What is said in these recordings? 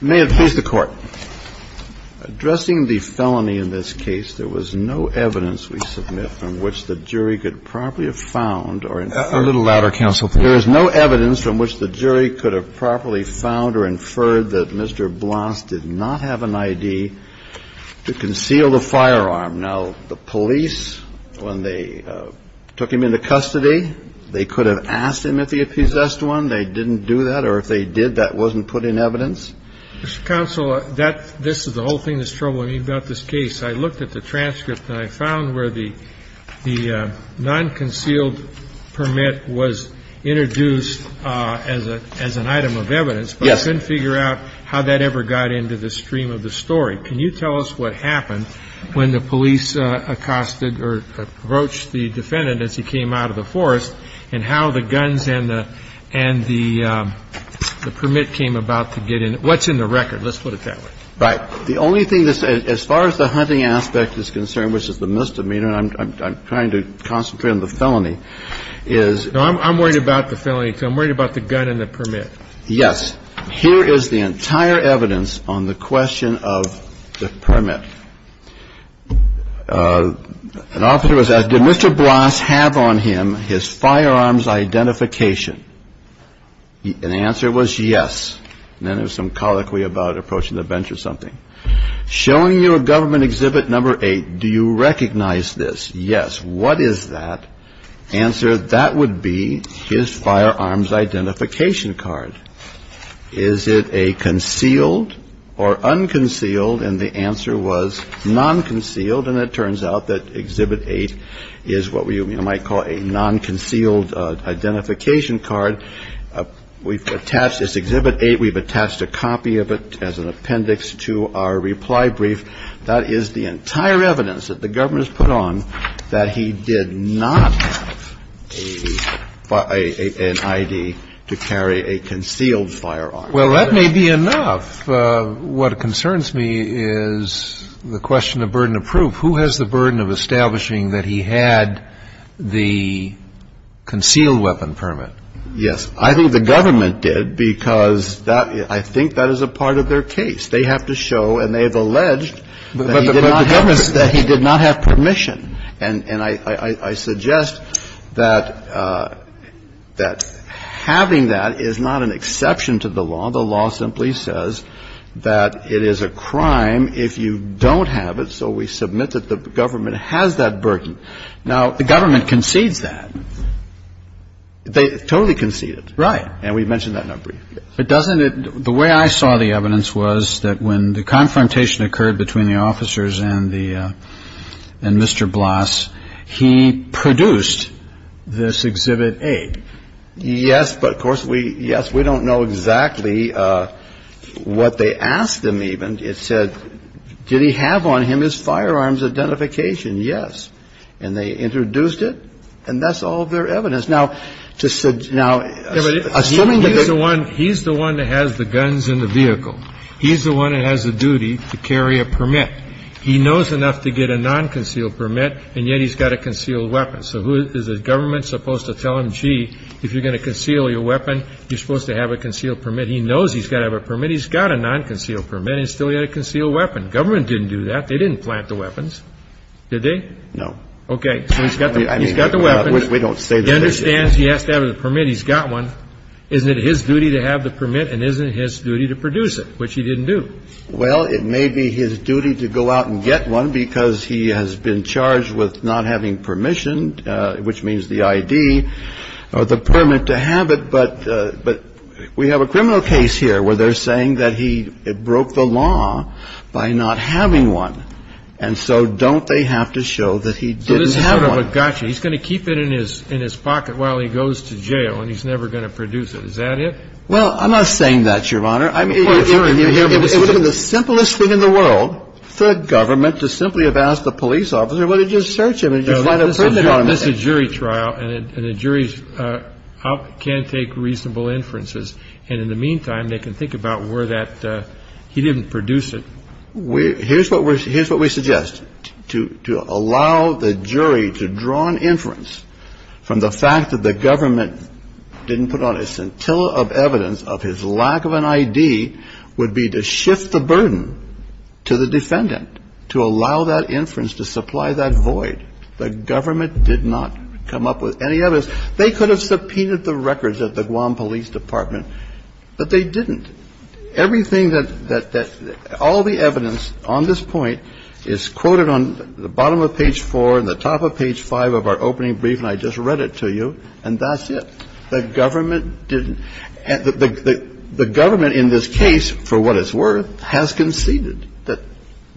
May it please the Court. Addressing the felony in this case, there was no evidence we submit from which the jury could properly have found or inferred A little louder, counsel. There is no evidence from which the jury could have properly found or inferred that Mr. Blas did not have an I.D. to conceal the firearm. Now, the police, when they took him into custody, they could have asked him if he possessed one. They didn't do that. Or if they did, that wasn't put in evidence. Counsel, that this is the whole thing that's troubling me about this case. I looked at the transcript and I found where the the non-concealed permit was introduced as a as an item of evidence. But I couldn't figure out how that ever got into the stream of the story. Can you tell us what happened when the police accosted or approached the defendant as he came out of the forest and how the guns and the and the the permit came about to get in? What's in the record? Let's put it that way. Right. The only thing as far as the hunting aspect is concerned, which is the misdemeanor, I'm trying to concentrate on the felony, is I'm worried about the felony. So I'm worried about the gun and the permit. Yes. Here is the entire evidence on the question of the permit. An officer was asked, did Mr. Blas have on him his firearms identification? And the answer was yes. And then there's some colloquy about approaching the bench or something. Showing you a government exhibit. Number eight. Do you recognize this? Yes. What is that answer? That would be his firearms identification card. Is it a concealed or unconcealed? And the answer was non-concealed. And it turns out that exhibit eight is what we might call a non-concealed identification card. We've attached this exhibit eight. We've attached a copy of it as an appendix to our reply brief. That is the entire evidence that the government has put on that he did not have an ID to carry a concealed firearm. Well, that may be enough. What concerns me is the question of burden of proof. Who has the burden of establishing that he had the concealed weapon permit? Yes. I think the government did, because I think that is a part of their case. They have to show, and they have alleged that he did not have permission. And I suggest that having that is not an exception to the law. The law simply says that it is a crime if you don't have it, so we submit that the government has that burden. Now, the government concedes that. They totally concede it. Right. And we mentioned that in our brief. But doesn't it the way I saw the evidence was that when the confrontation occurred between the officers and the and Mr. Blass, he produced this exhibit eight. Yes. But of course, we yes. We don't know exactly what they asked him. Even it said, did he have on him his firearms identification? Yes. And they introduced it. And that's all their evidence. Now, to suggest now, assuming that he's the one that has the guns in the vehicle, he's the one that has the duty to carry a permit. He knows enough to get a nonconcealed permit, and yet he's got a concealed weapon. So who is the government supposed to tell him, gee, if you're going to conceal your weapon, you're supposed to have a concealed permit. He knows he's got to have a permit. He's got a nonconcealed permit, and still he had a concealed weapon. Government didn't do that. They didn't plant the weapons, did they? No. So he's got the weapon. We don't say that. He understands he has to have a permit. He's got one. Isn't it his duty to have the permit, and isn't it his duty to produce it, which he didn't do? Well, it may be his duty to go out and get one because he has been charged with not having permission, which means the ID, or the permit to have it. But we have a criminal case here where they're saying that he broke the law by not having one. And so don't they have to show that he didn't have one? Well, gotcha. He's going to keep it in his pocket while he goes to jail, and he's never going to produce it. Is that it? Well, I'm not saying that, Your Honor. It would have been the simplest thing in the world for a government to simply have asked a police officer, well, did you search him? Did you find a permit on him? No, this is a jury trial, and a jury can take reasonable inferences. And in the meantime, they can think about where that he didn't produce it. Here's what we suggest. To allow the jury to draw an inference from the fact that the government didn't put on a scintilla of evidence of his lack of an ID would be to shift the burden to the defendant to allow that inference to supply that void. The government did not come up with any evidence. They could have subpoenaed the records at the Guam Police Department, but they didn't. Everything that all the evidence on this point is quoted on the bottom of page 4 and the top of page 5 of our opening brief, and I just read it to you, and that's it. The government didn't. The government in this case, for what it's worth, has conceded that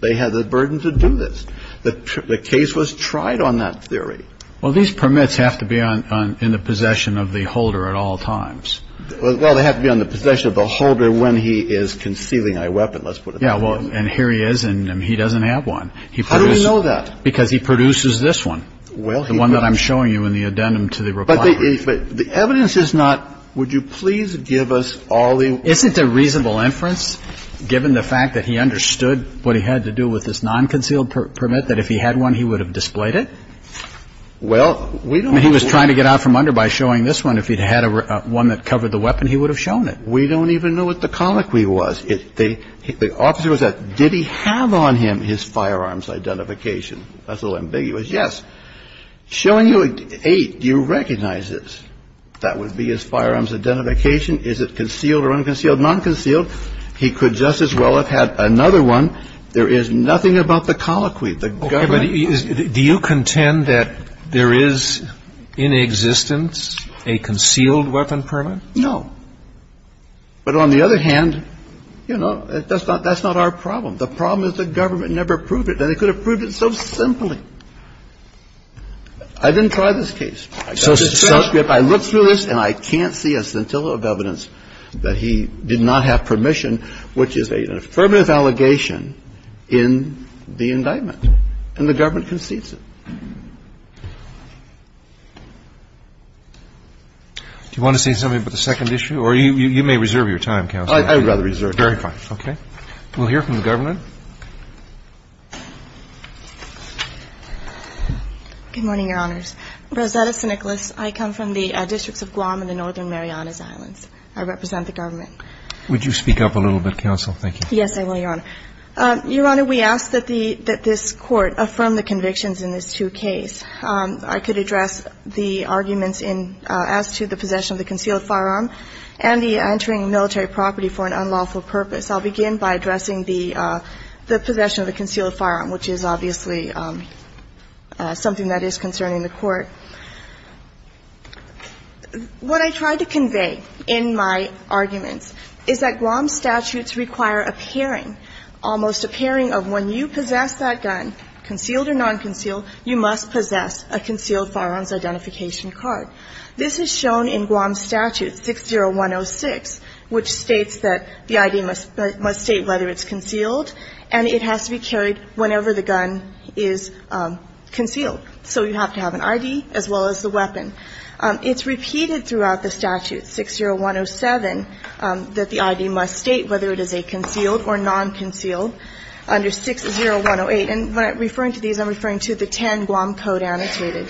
they had the burden to do this. The case was tried on that theory. Well, these permits have to be in the possession of the holder at all times. Well, they have to be on the possession of the holder when he is concealing a weapon, let's put it that way. Yeah, well, and here he is, and he doesn't have one. How do we know that? Because he produces this one. Well, he does. The one that I'm showing you in the addendum to the reply. But the evidence is not, would you please give us all the evidence? Isn't a reasonable inference, given the fact that he understood what he had to do with this nonconcealed permit, that if he had one, he would have displayed it? Well, we don't know. We don't even know what the colloquy was. The officer was at, did he have on him his firearms identification? That's a little ambiguous. Yes. Showing you eight, do you recognize this? That would be his firearms identification. Is it concealed or unconcealed? Nonconcealed. He could just as well have had another one. There is nothing about the colloquy. The government is. Do you contend that there is in existence a concealed weapon permit? No. But on the other hand, you know, that's not our problem. The problem is the government never proved it. They could have proved it so simply. I didn't try this case. I got the transcript. I looked through this, and I can't see a scintilla of evidence that he did not have permission, which is an affirmative allegation in the indictment. And the government concedes it. Do you want to say something about the second issue? Or you may reserve your time, counsel. I would rather reserve it. Very fine. Okay. We'll hear from the government. Good morning, Your Honors. Rosetta Siniclis. I come from the districts of Guam and the Northern Marianas Islands. I represent the government. Would you speak up a little bit, counsel? Thank you. Yes, I will, Your Honor. Your Honor, we ask that this Court affirm the convictions in this two case. I could address the arguments in as to the possession of the concealed firearm and the entering military property for an unlawful purpose. I'll begin by addressing the possession of the concealed firearm, which is obviously something that is concerning the Court. What I tried to convey in my arguments is that Guam statutes require a pairing, almost a pairing of when you possess that gun, concealed or nonconcealed, you must possess a concealed firearms identification card. This is shown in Guam Statute 60106, which states that the ID must state whether it's concealed and it has to be carried whenever the gun is concealed. So you have to have an ID as well as the weapon. It's repeated throughout the statute, 60107, that the ID must state whether it is a concealed or nonconcealed under 60108. And when I'm referring to these, I'm referring to the 10 Guam Code annotated.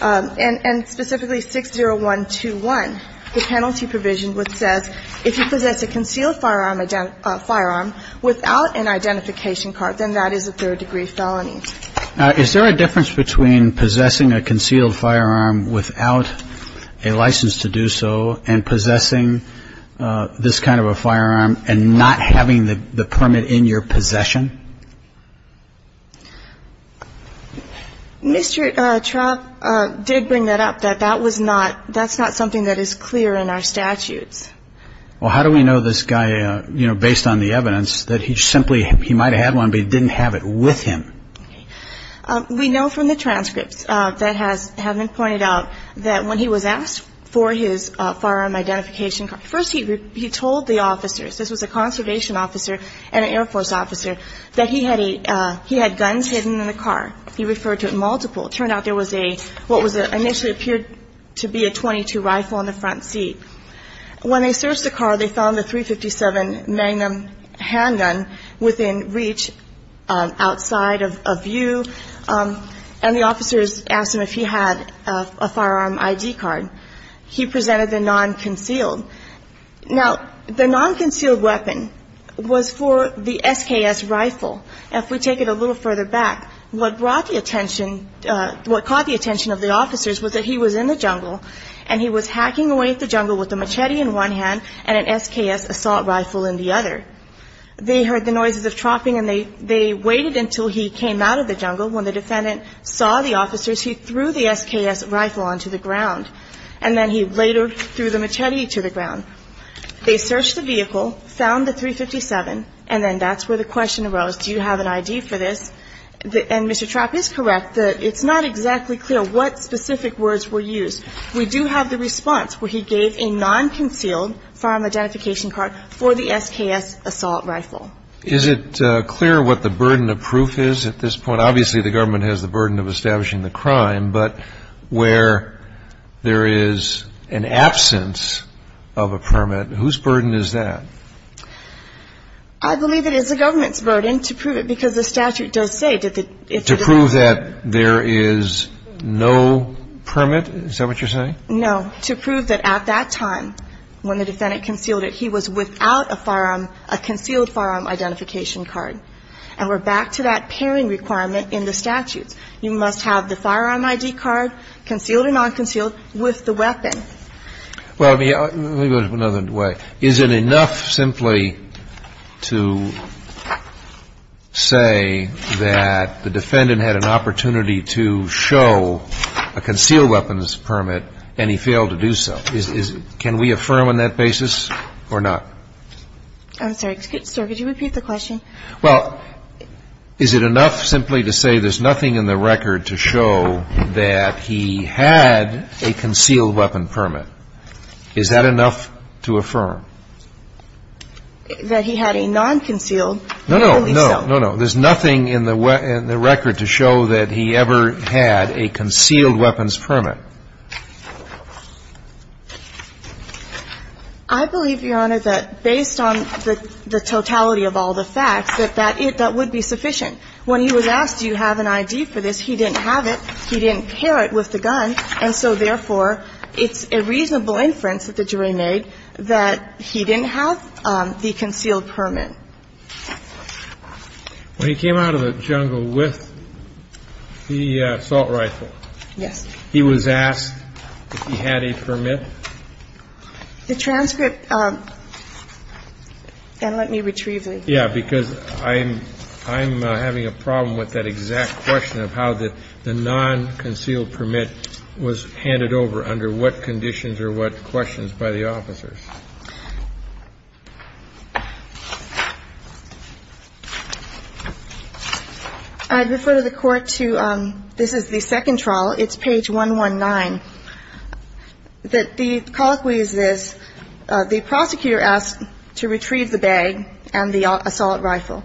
And specifically 60121, the penalty provision which says if you possess a concealed firearm without an identification card, then that is a third-degree felony. Is there a difference between possessing a concealed firearm without a license to do so and possessing this kind of a firearm and not having the permit in your possession? Mr. Traub did bring that up, that that's not something that is clear in our statutes. Well, how do we know this guy, you know, based on the evidence, that he simply, he might have had one, but he didn't have it with him? We know from the transcripts that have been pointed out that when he was asked for his firearm identification card, first he told the officers, this was a conservation officer and an Air Force officer, that he had guns hidden in the car. He referred to it multiple. It turned out there was a, what initially appeared to be a .22 rifle in the front seat. When they searched the car, they found a .357 Magnum handgun within reach, outside of view, and the officers asked him if he had a firearm ID card. He presented the non-concealed. Now, the non-concealed weapon was for the SKS rifle. If we take it a little further back, what brought the attention, what caught the attention of the officers was that he was in the jungle, and he was hacking away at the jungle with a machete in one hand and an SKS assault rifle in the other. They heard the noises of chopping, and they waited until he came out of the jungle. When the defendant saw the officers, he threw the SKS rifle onto the ground, and then he later threw the machete to the ground. They searched the vehicle, found the .357, and then that's where the question arose. Do you have an ID for this? And Mr. Trapp is correct that it's not exactly clear what specific words were used. We do have the response where he gave a non-concealed firearm identification card for the SKS assault rifle. Is it clear what the burden of proof is at this point? Obviously, the government has the burden of establishing the crime, but where there is an absence of a permit, whose burden is that? I believe it is the government's burden to prove it, because the statute does say that it's the government's. To prove that there is no permit? Is that what you're saying? No. To prove that at that time, when the defendant concealed it, he was without a concealed firearm identification card. And we're back to that pairing requirement in the statutes. You must have the firearm ID card, concealed or non-concealed, with the weapon. Well, let me go another way. Is it enough simply to say that the defendant had an opportunity to show a concealed weapons permit and he failed to do so? Can we affirm on that basis or not? I'm sorry. Could you repeat the question? Well, is it enough simply to say there's nothing in the record to show that he had a concealed weapon permit? Is that enough to affirm? That he had a non-concealed? No, no. No, no. There's nothing in the record to show that he ever had a concealed weapons permit. I believe, Your Honor, that based on the totality of all the facts, that that would be sufficient. When he was asked, do you have an ID for this, he didn't have it. He didn't pair it with the gun. And so therefore, it's a reasonable inference that the jury made that he didn't have the concealed permit. When he came out of the jungle with the assault rifle. Yes. He was asked if he had a permit. The transcript, and let me retrieve it. Yeah, because I'm having a problem with that exact question of how the non-concealed permit was handed over under what conditions or what questions by the officers. I refer to the court to, this is the second trial. It's page 119. The colloquy is this. The prosecutor asked to retrieve the bag and the assault rifle.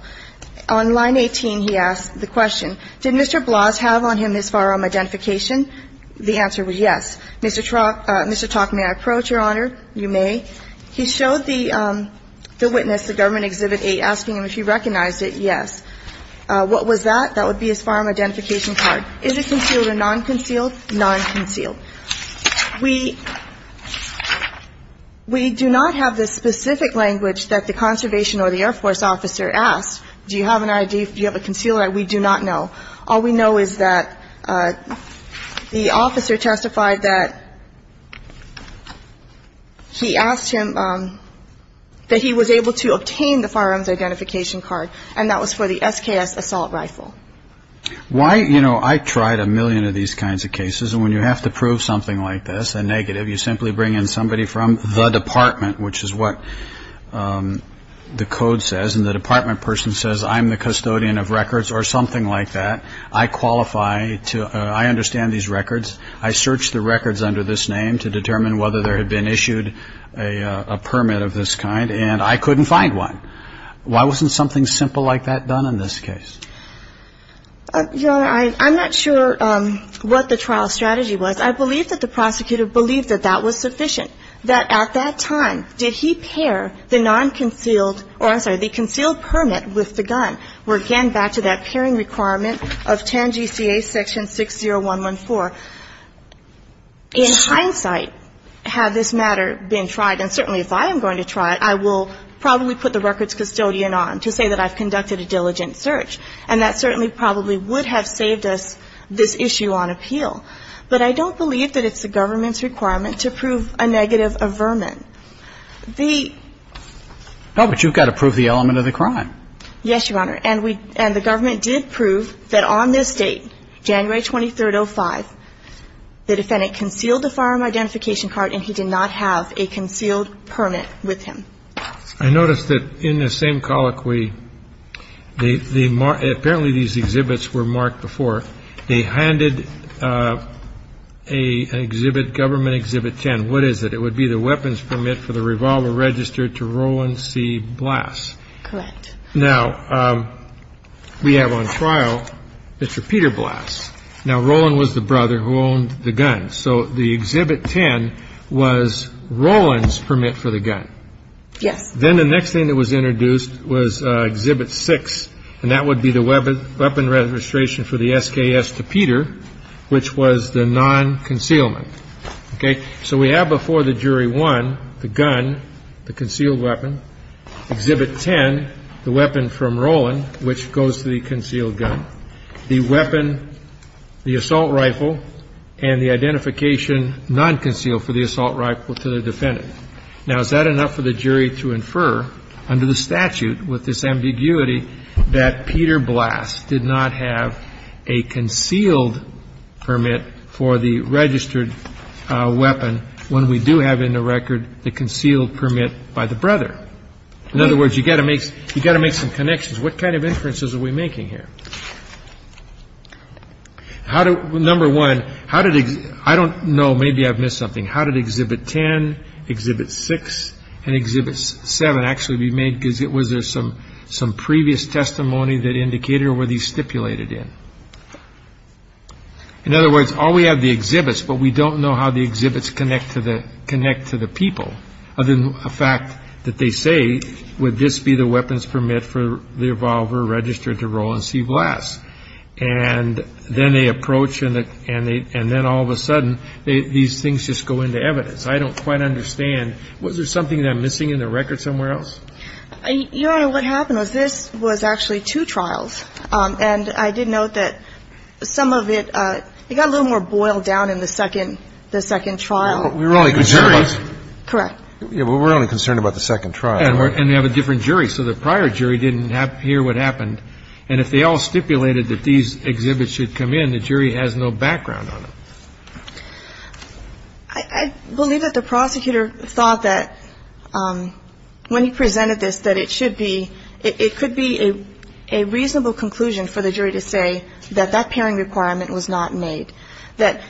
On line 18, he asked the question, did Mr. Bloss have on him his firearm identification? The answer was yes. Mr. Tock, may I approach, Your Honor? You may. He showed the witness, the government exhibit eight, asking him if he recognized it, yes. What was that? That would be his firearm identification card. Is it concealed or non-concealed? Non-concealed. We do not have the specific language that the conservation or the Air Force officer asked. Do you have an ID? Do you have a concealed? We do not know. All we know is that the officer testified that he asked him that he was able to obtain the firearms identification card, and that was for the SKS assault rifle. I tried a million of these kinds of cases, and when you have to prove something like this, a negative, you simply bring in somebody from the department, which is what the code says, and the department person says, I'm the custodian of records or something like that. I understand these records. I searched the records under this name to determine whether there had been issued a permit of this kind, and I couldn't find one. Why wasn't something simple like that done in this case? Your Honor, I'm not sure what the trial strategy was. I believe that the prosecutor believed that that was sufficient, that at that time, did he pair the non-concealed or, I'm sorry, the concealed permit with the gun. We're again back to that pairing requirement of TANGCA section 60114. In hindsight, had this matter been tried, and certainly if I am going to try it, I will probably put the records custodian on to say that I've conducted a diligent search, and that certainly probably would have saved us this issue on appeal. But I don't believe that it's the government's requirement to prove a negative averment. The ---- No, but you've got to prove the element of the crime. Yes, Your Honor, and the government did prove that on this date, January 23rd, 2005, the defendant concealed the firearm identification card, and he did not have a concealed permit with him. I noticed that in the same colloquy, the ---- apparently these exhibits were marked before. They handed an exhibit, Government Exhibit 10. What is it? It would be the weapons permit for the revolver registered to Roland C. Blass. Correct. Now, we have on trial Mr. Peter Blass. Now, Roland was the brother who owned the gun, so the Exhibit 10 was Roland's permit for the gun. Yes. Then the next thing that was introduced was Exhibit 6, and that would be the weapon registration for the SKS to Peter, which was the non-concealment. Okay? So we have before the jury 1, the gun, the concealed weapon. Exhibit 10, the weapon from Roland, which goes to the concealed gun. The weapon, the assault rifle, and the identification non-concealed for the assault rifle to the defendant. Now, is that enough for the jury to infer under the statute with this ambiguity that Peter Blass did not have a concealed permit for the registered weapon when we do have in the record the concealed permit by the brother? In other words, you've got to make some connections. What kind of inferences are we making here? Number one, I don't know. Maybe I've missed something. How did Exhibit 10, Exhibit 6, and Exhibit 7 actually be made? Was there some previous testimony that indicated or were these stipulated in? In other words, all we have are the exhibits, but we don't know how the exhibits connect to the people, other than the fact that they say, would this be the weapons permit for the revolver registered to Roland C. Blass? And then they approach, and then all of a sudden these things just go into evidence. I don't quite understand. Was there something that I'm missing in the record somewhere else? Your Honor, what happened was this was actually two trials, and I did note that some of it, it got a little more boiled down in the second trial. We were only concerned about the second trial. And they have a different jury. So the prior jury didn't hear what happened. And if they all stipulated that these exhibits should come in, the jury has no background on them. I believe that the prosecutor thought that when he presented this that it should be, it could be a reasonable conclusion for the jury to say that that pairing requirement was not made, that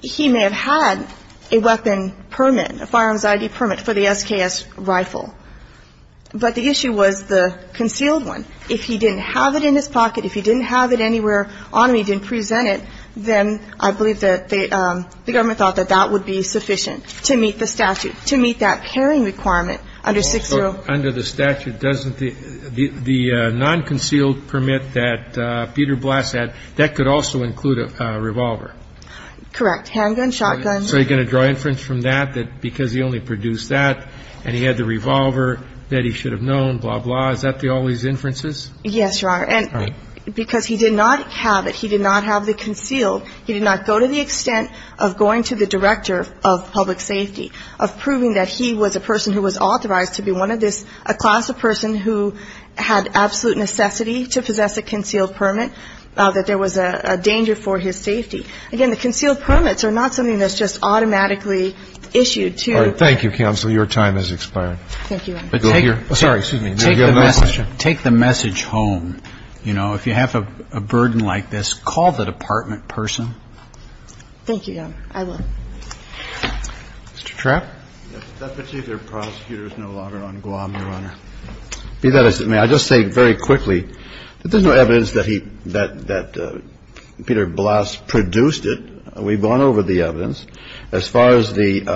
he may have had a weapon permit, a firearms ID permit for the SKS rifle. But the issue was the concealed one. If he didn't have it in his pocket, if he didn't have it anywhere on him, he didn't present it, then I believe that the government thought that that would be sufficient to meet the statute, to meet that pairing requirement under 6-0. So under the statute, doesn't the nonconcealed permit that Peter Blass had, that could also include a revolver? Correct. Handgun, shotgun. So you're going to draw inference from that, that because he only produced that and he had the revolver, that he should have known, blah, blah. Is that all these inferences? Yes, Your Honor. And because he did not have it, he did not have the concealed, he did not go to the extent of going to the director of public safety, of proving that he was a person who was authorized to be one of this, a class of person who had absolute necessity to possess a concealed permit, that there was a danger for his safety. Again, the concealed permits are not something that's just automatically issued to you. All right. Thank you, counsel. Your time has expired. Thank you, Your Honor. Take the message home, you know. If you have a burden like this, call the department person. Thank you, Your Honor. I will. Mr. Trapp. Deputy Chief of Prosecutors no longer on Guam, Your Honor. Be that as it may, I'll just say very quickly that there's no evidence that he, that Peter Blass produced it. We've gone over the evidence. As far as the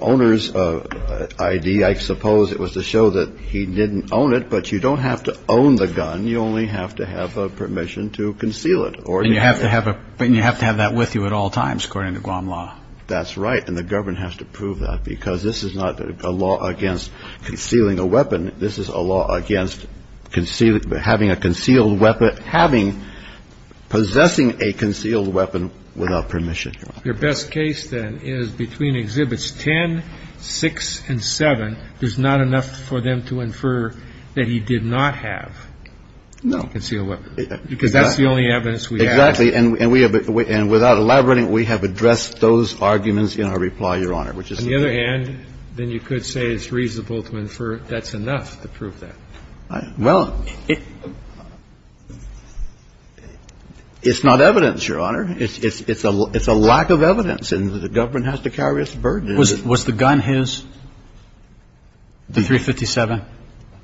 owner's ID, I suppose it was to show that he didn't own it. But you don't have to own the gun. You only have to have permission to conceal it. And you have to have that with you at all times, according to Guam law. That's right. And the government has to prove that, because this is not a law against concealing a weapon. This is a law against having a concealed weapon, having, possessing a concealed weapon without permission. Your best case, then, is between Exhibits 10, 6, and 7. There's not enough for them to infer that he did not have a concealed weapon. Because that's the only evidence we have. Exactly. And without elaborating, we have addressed those arguments in our reply, Your Honor. On the other hand, then you could say it's reasonable to infer that's enough to prove that. Well, it's not evidence, Your Honor. It's a lack of evidence. And the government has to carry its burden. Was the gun his, the .357?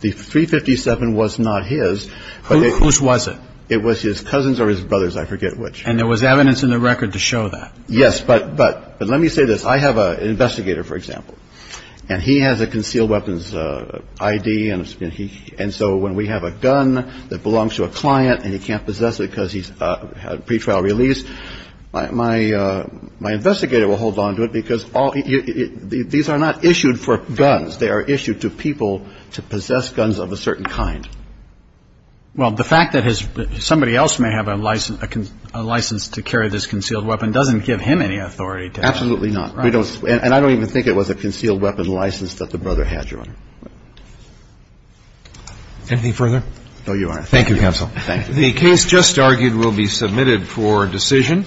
The .357 was not his. Whose was it? It was his cousin's or his brother's, I forget which. And there was evidence in the record to show that. Yes. But let me say this. I have an investigator, for example. And he has a concealed weapons I.D. And so when we have a gun that belongs to a client and he can't possess it because he's had a pretrial release, my investigator will hold on to it, because these are not issued for guns. They are issued to people to possess guns of a certain kind. Well, the fact that somebody else may have a license to carry this concealed weapon doesn't give him any authority to have it. Absolutely not. And I don't even think it was a concealed weapon license that the brother had, Your Honor. Anything further? No, Your Honor. Thank you, counsel. The case just argued will be submitted for decision.